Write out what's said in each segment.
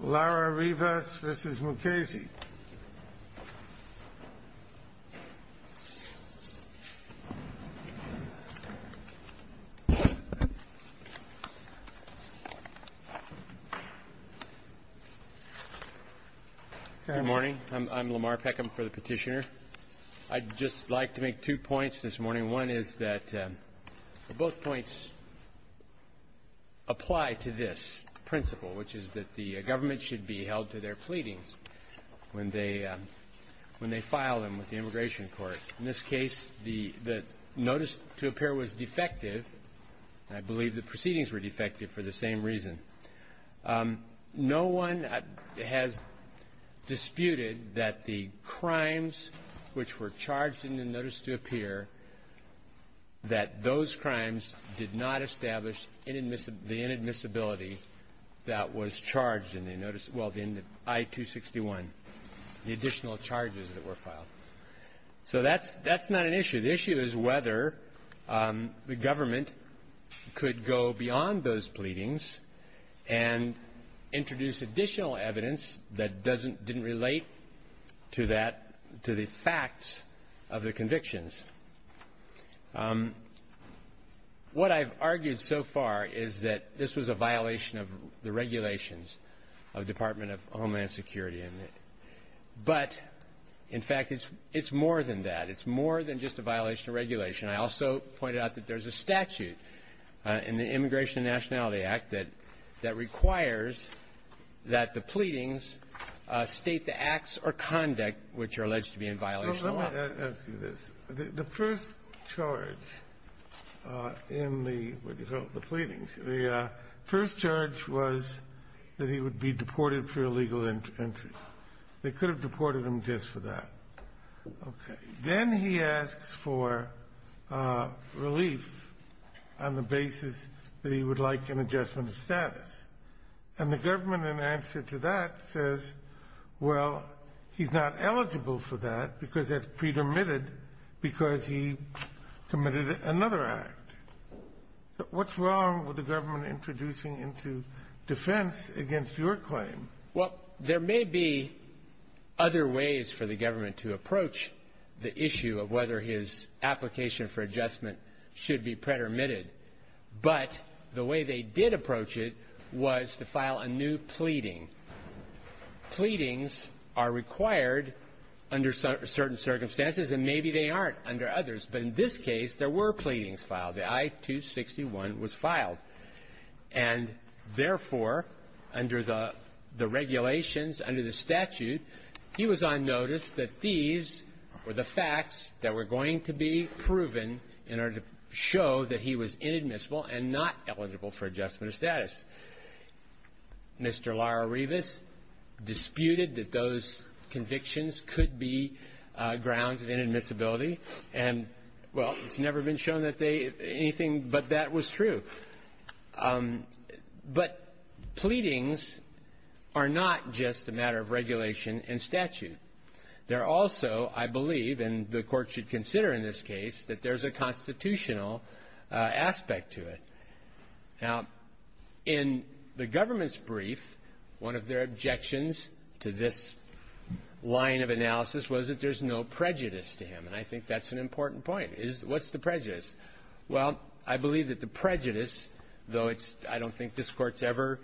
Good morning. I'm Lamar Peckham for the petitioner. I'd just like to make two points this morning. And one is that both points apply to this principle, which is that the government should be held to their pleadings when they file them with the Immigration Court. In this case, the notice to appear was defective. I believe the proceedings were defective for the same reason. No one has disputed that the crimes which were charged in the notice to appear, that those crimes did not establish the inadmissibility that was charged in the notice – well, in the I-261, the additional charges that were filed. So that's not an issue. The issue is whether the government could go beyond those pleadings and introduce additional evidence that doesn't – didn't relate to that – to the facts of the convictions. What I've argued so far is that this was a violation of the regulations of the Department of Homeland Security. But, in fact, it's more than that. It's more than just a violation of regulation. I also pointed out that there's a statute in the Immigration and Nationality Act that requires that the pleadings state the acts or conduct which are alleged to be in violation of law. The first charge in the pleadings, the first charge was that he would be deported for illegal entry. They could have deported him just for that. Okay. Then he asks for relief on the basis that he would like an adjustment of status. And the government, in answer to that, says, well, he's not eligible for that because it's pre-dermitted because he committed another act. What's wrong with the government introducing into defense against your claim? Well, there may be other ways for the government to approach the issue of whether his application for adjustment should be pre-dermitted. But the way they did approach it was to file a new pleading. Pleadings are required under certain circumstances, and maybe they aren't under others. But in this case, there were pleadings filed. The I-261 was filed. And therefore, under the regulations, under the statute, he was on notice that these were the facts that were going to be proven in order to show that he was inadmissible and not eligible for adjustment of status. Mr. Lara-Rivas disputed that those convictions could be grounds of inadmissibility. And, well, it's never been shown that they anything, but that was true. But pleadings are not just a matter of regulation and statute. They're also, I believe, and the Court should consider in this case, that there's a constitutional aspect to it. Now, in the government's brief, one of their objections to this line of analysis was that there's no prejudice to him. And I think that's an important point. Is what's the prejudice? Well, I believe that the prejudice, though it's — I don't think this Court's ever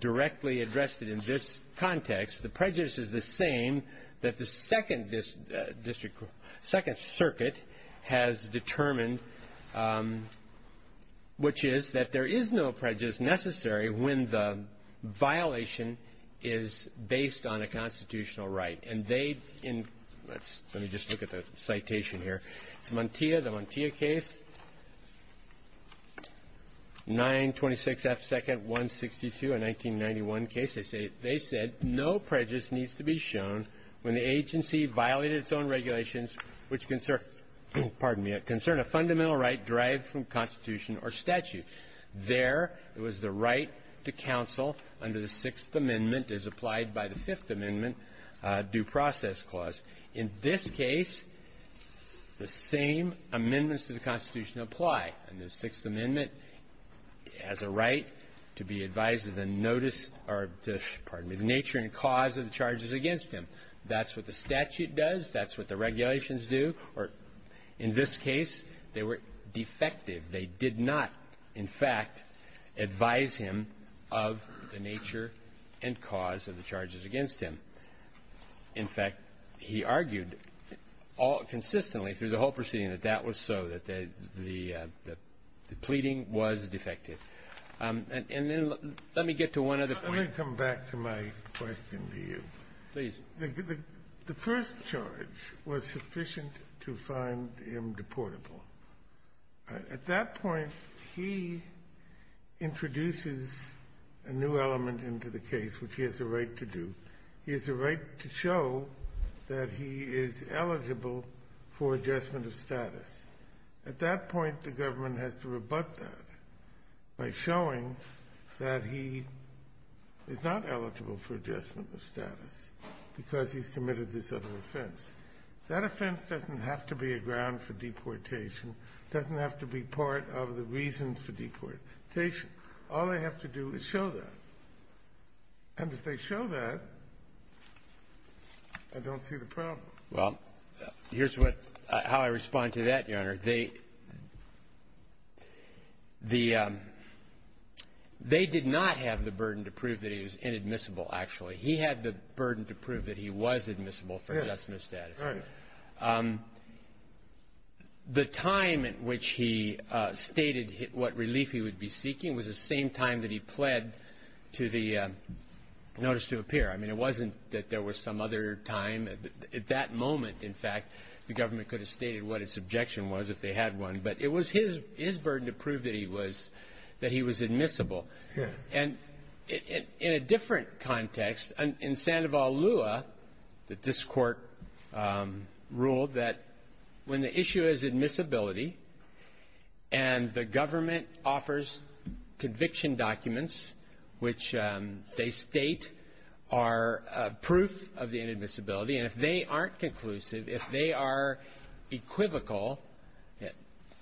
directly addressed it in this context, the prejudice is the same that the Second District — Second Circuit has determined, which is that there is no prejudice necessary when the violation is based on a constitutional right. And they in — let's — let me just look at the citation here. It's Montia, the Montia case, 926 F. Second, 162, a 1991 case. They say — they said, no prejudice needs to be shown when the agency violated its own regulations which concern — pardon me — concern a fundamental right derived from constitution or statute. There, it was the right to counsel under the Sixth Amendment as applied by the Fifth Amendment due process clause. In this case, the same amendments to the Constitution apply. And the Sixth Amendment has a right to be advised of the notice or the — pardon me — the nature and cause of the charges against him. That's what the statute does. That's what the regulations do. Or in this case, they were defective. They did not, in fact, advise him of the nature and cause of the charges against him. In fact, he argued all — consistently through the whole proceeding that that was so, that the — the pleading was defective. And then let me get to one other point. Let me come back to my question to you. Please. The first charge was sufficient to find him deportable. At that point, he introduces a new element into the case, which he has a right to do. He has a right to show that he is eligible for adjustment of status. At that point, the government has to rebut that by showing that he is not eligible for adjustment of status because he's committed this other offense. That offense doesn't have to be a ground for deportation. It doesn't have to be part of the reasons for deportation. All they have to do is show that. And if they show that, I don't see the problem. Well, here's what — how I respond to that, Your Honor. They — the — they did not have the burden to prove that he was inadmissible, actually. He had the burden to prove that he was admissible for adjustment of status. Right. The time at which he stated what relief he would be seeking was the same time that he pled to the notice to appear. I mean, it wasn't that there was some other time. At that moment, in fact, the government could have stated what its objection was if they had one. But it was his — his burden to prove that he was — that he was admissible. Yeah. And in a different context, in Sandoval Lua, that this Court ruled that when the issue is admissibility and the government offers conviction documents which they state are proof of the inadmissibility, and if they aren't conclusive, if they are equivocal,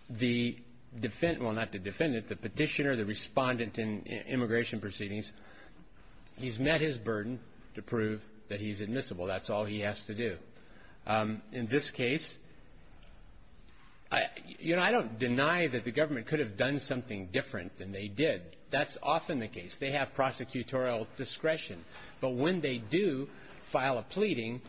the defendant — well, not the defendant, the petitioner, the respondent in immigration proceedings, he's met his burden to prove that he's admissible. That's all he has to do. In this case, I — you know, I don't deny that the government could have done something different than they did. That's often the case. They have prosecutorial discretion. But when they do file a pleading,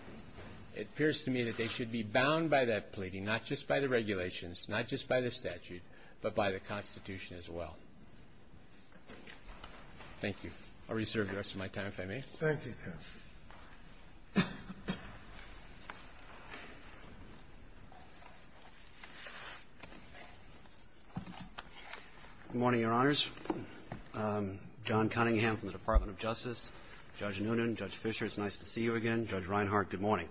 it appears to me that they should be bound by that regulations, not just by the statute, but by the Constitution as well. Thank you. I'll reserve the rest of my time, if I may. Thank you, counsel. Good morning, Your Honors. John Cunningham from the Department of Justice. Judge Noonan, Judge Fischer, it's nice to see you again. Judge Reinhart, good morning.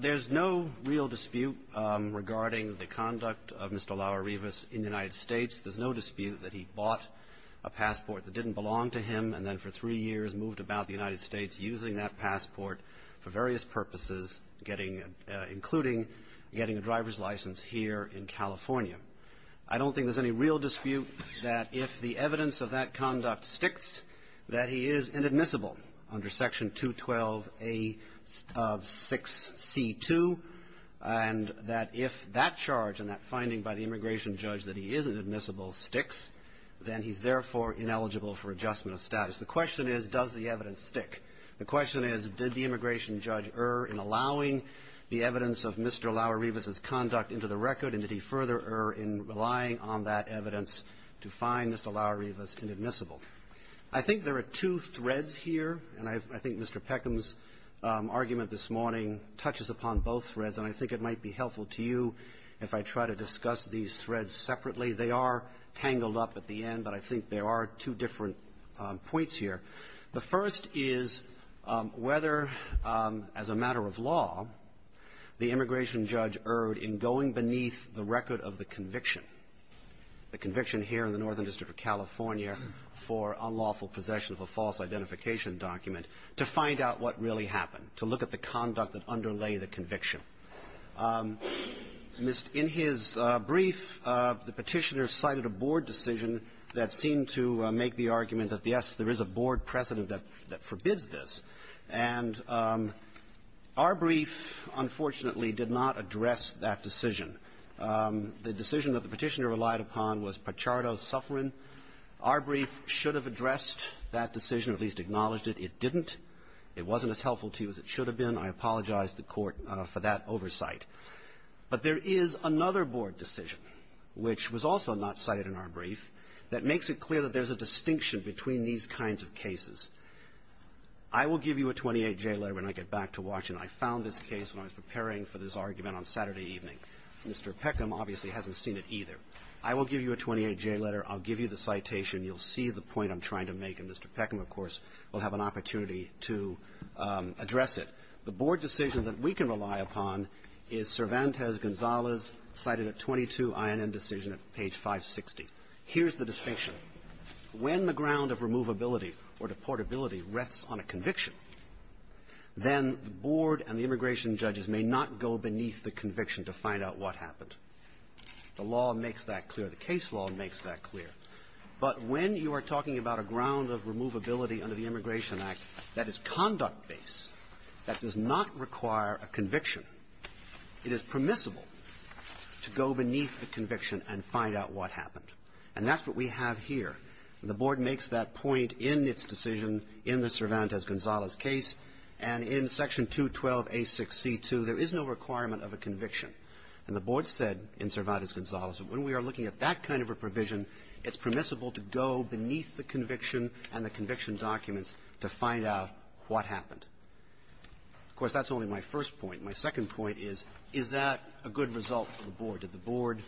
There's no real dispute regarding the conduct of Mr. Lauerebus in the United States. There's no dispute that he bought a passport that didn't belong to him and then for three years moved about the United States using that passport for various purposes, getting — including getting a driver's license here in California. I don't think there's any real dispute that if the evidence of that conduct sticks, that he is inadmissible under Section 212A of 6C2, and that if that charge and that finding by the immigration judge that he is inadmissible sticks, then he's therefore ineligible for adjustment of status. The question is, does the evidence stick? The question is, did the immigration judge err in allowing the evidence of Mr. Lauerebus's conduct into the record, and did he further err in relying on that evidence to find Mr. Lauerebus inadmissible? I think there are two threads here, and I think Mr. Peckham's argument this morning touches upon both threads, and I think it might be helpful to you if I try to discuss these threads separately. They are tangled up at the end, but I think there are two different points here. The first is whether, as a matter of law, the immigration judge erred in going beneath the record of the conviction, the conviction here in the for unlawful possession of a false identification document, to find out what really happened, to look at the conduct that underlay the conviction. In his brief, the Petitioner cited a board decision that seemed to make the argument that, yes, there is a board precedent that forbids this. And our brief, unfortunately, did not address that decision. The decision that the Petitioner relied upon was Pachardo's suffering. Our brief should have addressed that decision, at least acknowledged it. It didn't. It wasn't as helpful to you as it should have been. I apologize to the Court for that oversight. But there is another board decision, which was also not cited in our brief, that makes it clear that there's a distinction between these kinds of cases. I will give you a 28J letter when I get back to Washington. I found this case when I was preparing for this argument on Saturday evening. Mr. Peckham obviously hasn't seen it either. I will give you a 28J letter. I'll give you the citation. You'll see the point I'm trying to make. And Mr. Peckham, of course, will have an opportunity to address it. The board decision that we can rely upon is Cervantes-Gonzalez, cited at 22, I&M decision at page 560. Here's the distinction. When the ground of removability or deportability rests on a conviction, then the board and the immigration judges may not go beneath the conviction to find out what happened. The law makes that clear. The case law makes that clear. But when you are talking about a ground of removability under the Immigration Act that is conduct-based, that does not require a conviction, it is permissible to go beneath the conviction and find out what happened. And that's what we have here. The board makes that point in its decision in the Cervantes-Gonzalez case. And in Section 212a6c2, there is no requirement of a conviction. And the board said in Cervantes-Gonzalez that when we are looking at that kind of a provision, it's permissible to go beneath the conviction and the conviction documents to find out what happened. Of course, that's only my first point. My second point is, is that a good result for the board? Did the board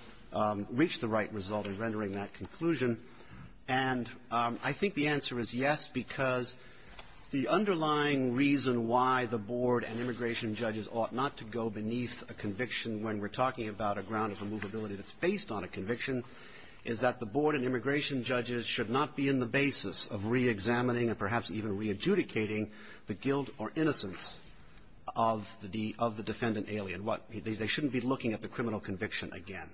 reach the right result in rendering that conclusion? And I think the answer is yes, because the underlying reason why the board and immigration judges ought not to go beneath a conviction when we're talking about a ground of removability that's based on a conviction is that the board and immigration judges should not be in the basis of reexamining and perhaps even readjudicating the guilt or innocence of the defendant alien. They shouldn't be looking at the criminal conviction again.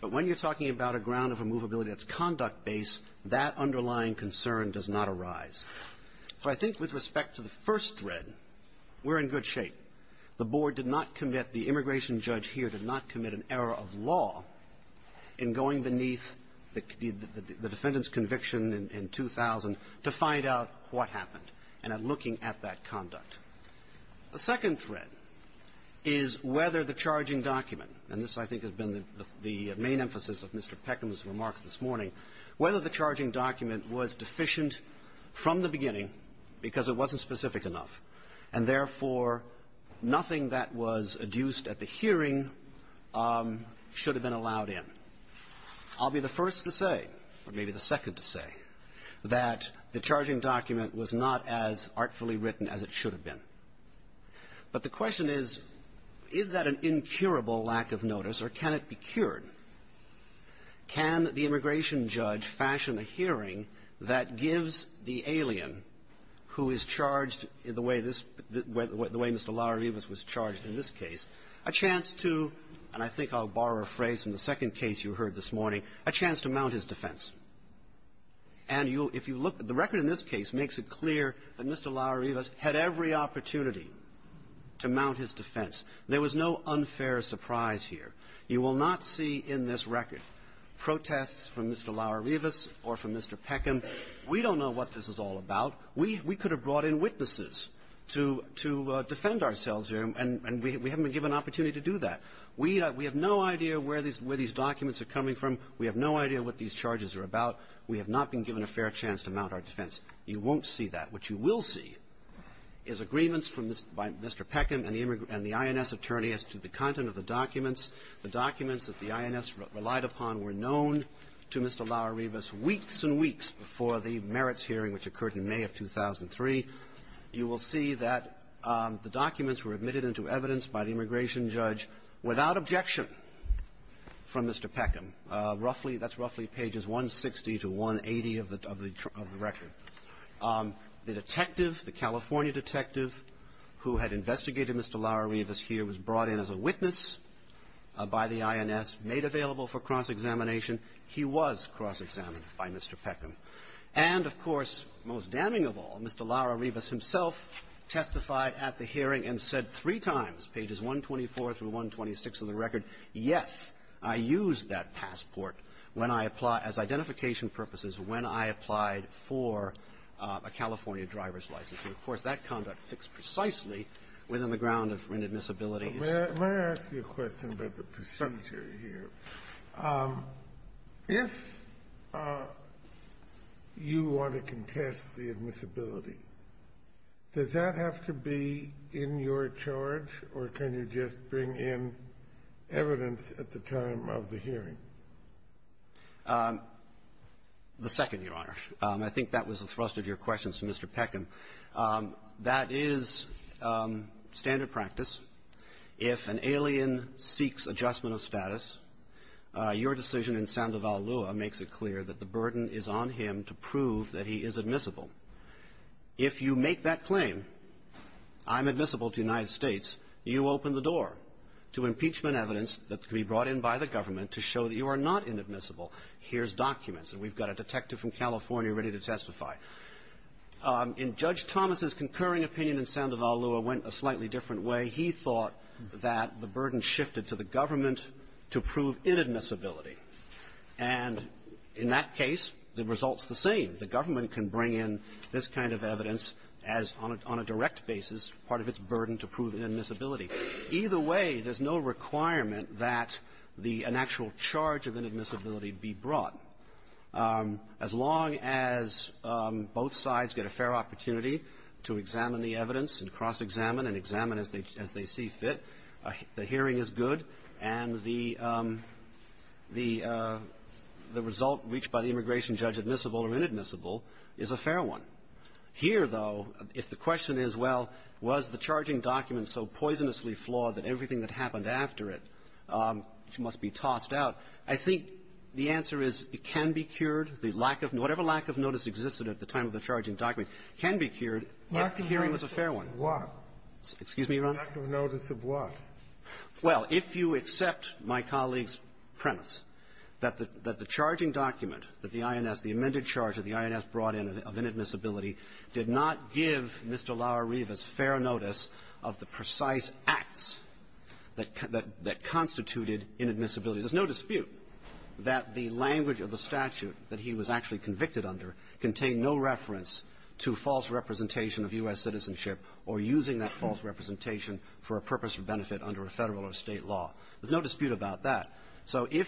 But when you're talking about a ground of removability that's conduct-based, that underlying concern does not arise. So I think with respect to the first thread, we're in good shape. The board did not commit, the immigration judge here did not commit an error of law in going beneath the defendant's conviction in 2000 to find out what happened and at looking at that conduct. The second thread is whether the charging document, and this, I think, has been the main emphasis of Mr. Peckham's remarks this morning, whether the charging document was deficient from the beginning because it wasn't specific enough, and therefore, nothing that was adduced at the hearing should have been allowed in. I'll be the first to say, or maybe the second to say, that the charging document was not as artfully written as it should have been. But the question is, is that an incurable lack of notice, or can it be cured? Can the immigration judge fashion a hearing that gives the alien who is charged the way this way, the way Mr. Laurivis was charged in this case, a chance to, and I think I'll borrow a phrase from the second case you heard this morning, a chance to mount his defense? And you'll, if you look at the record in this case, makes it clear that Mr. Laurivis had every opportunity to mount his defense. There was no unfair surprise here. You will not see in this report from Mr. Peckham, we don't know what this is all about. We could have brought in witnesses to defend ourselves here, and we haven't been given an opportunity to do that. We have no idea where these documents are coming from. We have no idea what these charges are about. We have not been given a fair chance to mount our defense. You won't see that. What you will see is agreements by Mr. Peckham and the INS attorney as to the content of the documents. The documents that the INS relied upon were known to Mr. Laurivis weeks and weeks before the merits hearing, which occurred in May of 2003. You will see that the documents were admitted into evidence by the immigration judge without objection from Mr. Peckham. Roughly, that's roughly pages 160 to 180 of the record. The detective, the California detective, who had investigated Mr. Laurivis here, was brought in as a witness by the INS, made available for cross-examination, he was cross-examined by Mr. Peckham. And, of course, most damning of all, Mr. Laurivis himself testified at the hearing and said three times, pages 124 through 126 of the record, yes, I used that passport when I applied as identification purposes, when I applied for a California driver's license. And, of course, that conduct fits precisely within the ground of inadmissibility. Kennedy, may I ask you a question about the presumptory here? If you want to contest the admissibility, does that have to be in your charge, or can you just bring in evidence at the time of the hearing? The second, Your Honor. I think that was the thrust of your question to Mr. Peckham. That is standard practice. If an alien seeks adjustment of status, your decision in Sandoval-Lua makes it clear that the burden is on him to prove that he is admissible. If you make that claim, I'm admissible to the United States, you open the door to impeachment evidence that can be brought in by the government to show that you are not inadmissible. Here's documents. And we've got a detective from California ready to testify. In Judge Thomas's concurring opinion in Sandoval-Lua went a slightly different way. He thought that the burden shifted to the government to prove inadmissibility. And in that case, the result's the same. The government can bring in this kind of evidence as, on a direct basis, part of its burden to prove inadmissibility. Either way, there's no requirement that the actual charge of inadmissibility be brought. As long as both sides get a fair opportunity to examine the evidence and cross-examine and examine as they see fit, the hearing is good, and the result reached by the immigration judge, admissible or inadmissible, is a fair one. Here, though, if the question is, well, was the charging document so poisonously flawed that everything that happened after it must be tossed out, I think the answer is it can be cured. The lack of notice, whatever lack of notice existed at the time of the charging document, can be cured if the hearing was a fair one. Excuse me, Your Honor? The lack of notice of what? Well, if you accept my colleague's premise that the charging document, that the INS, the amended charge that the INS brought in of inadmissibility, did not give Mr. Lauereva's fair notice of the precise acts that constituted inadmissibility. There's no dispute that the language of the statute that he was actually convicted under contained no reference to false representation of U.S. citizenship or using that false representation for a purpose of benefit under a Federal or State law. There's no dispute about that. So if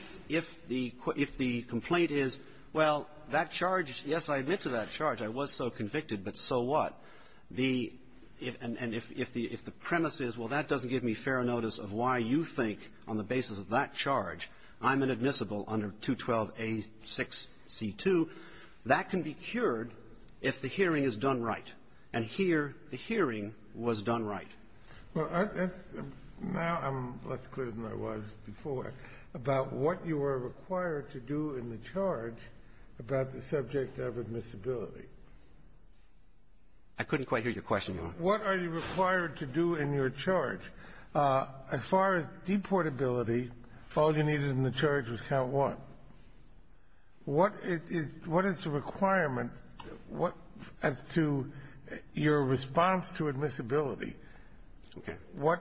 the complaint is, well, that charge, yes, I admit to that charge. I was so convicted, but so what? And if the premise is, well, that doesn't give me notice of why you think on the basis of that charge I'm inadmissible under 212a6c2, that can be cured if the hearing is done right. And here, the hearing was done right. Well, that's now I'm less clear than I was before about what you are required to do in the charge about the subject of admissibility. I couldn't quite hear your question, Your Honor. What are you required to do in your charge? As far as deportability, all you needed in the charge was count one. What is the requirement as to your response to admissibility? Okay. What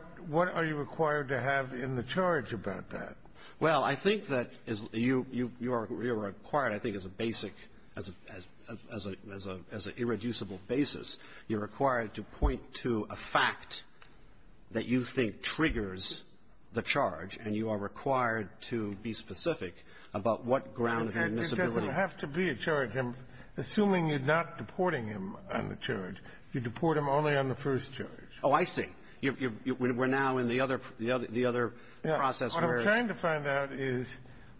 are you required to have in the charge about that? Well, I think that you are required, I think, as a basic, as an irreducible basis, you're required to point to a fact that you think triggers the charge, and you are required to be specific about what ground of admissibility It doesn't have to be a charge. I'm assuming you're not deporting him on the charge. You deport him only on the first charge. Oh, I see. We're now in the other process where it's What I'm trying to find out is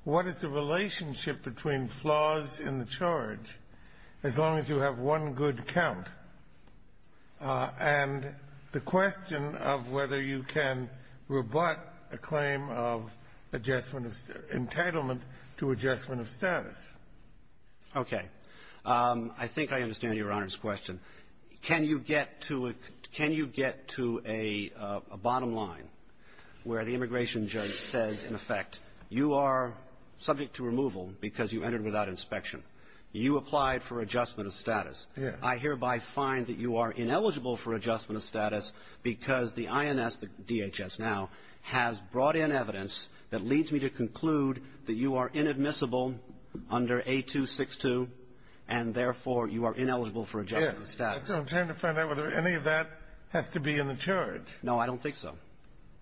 what is the ground and the question of whether you can rebut a claim of adjustment of entitlement to adjustment of status. Okay. I think I understand Your Honor's question. Can you get to a bottom line where the immigration judge says, in effect, you are subject to removal because you entered without inspection. You applied for adjustment of status. Yes. I hereby find that you are ineligible for adjustment of status because the INS, the DHS now, has brought in evidence that leads me to conclude that you are inadmissible under A262, and therefore, you are ineligible for adjustment of status. I'm trying to find out whether any of that has to be in the charge. No, I don't think so.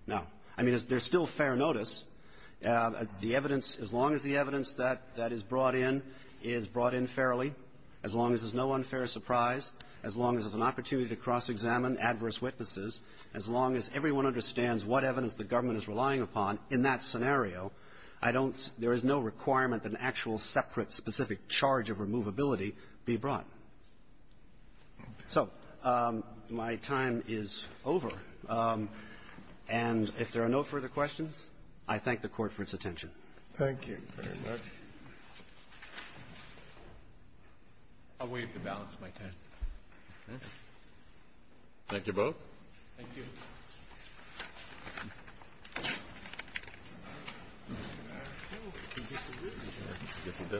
No. I mean, there's still fair notice. The evidence, as long as the evidence that is brought in is brought in fairly, as long as there's no unfair surprise, as long as there's an opportunity to cross-examine adverse witnesses, as long as everyone understands what evidence the government is relying upon in that scenario, I don't see no requirement that an actual separate specific charge of removability be brought. So my time is over. And if there are no further questions, I thank the Court for its attention. Thank you. Thank you very much. I'll waive the balance of my time. Okay. Thank you both. Thank you.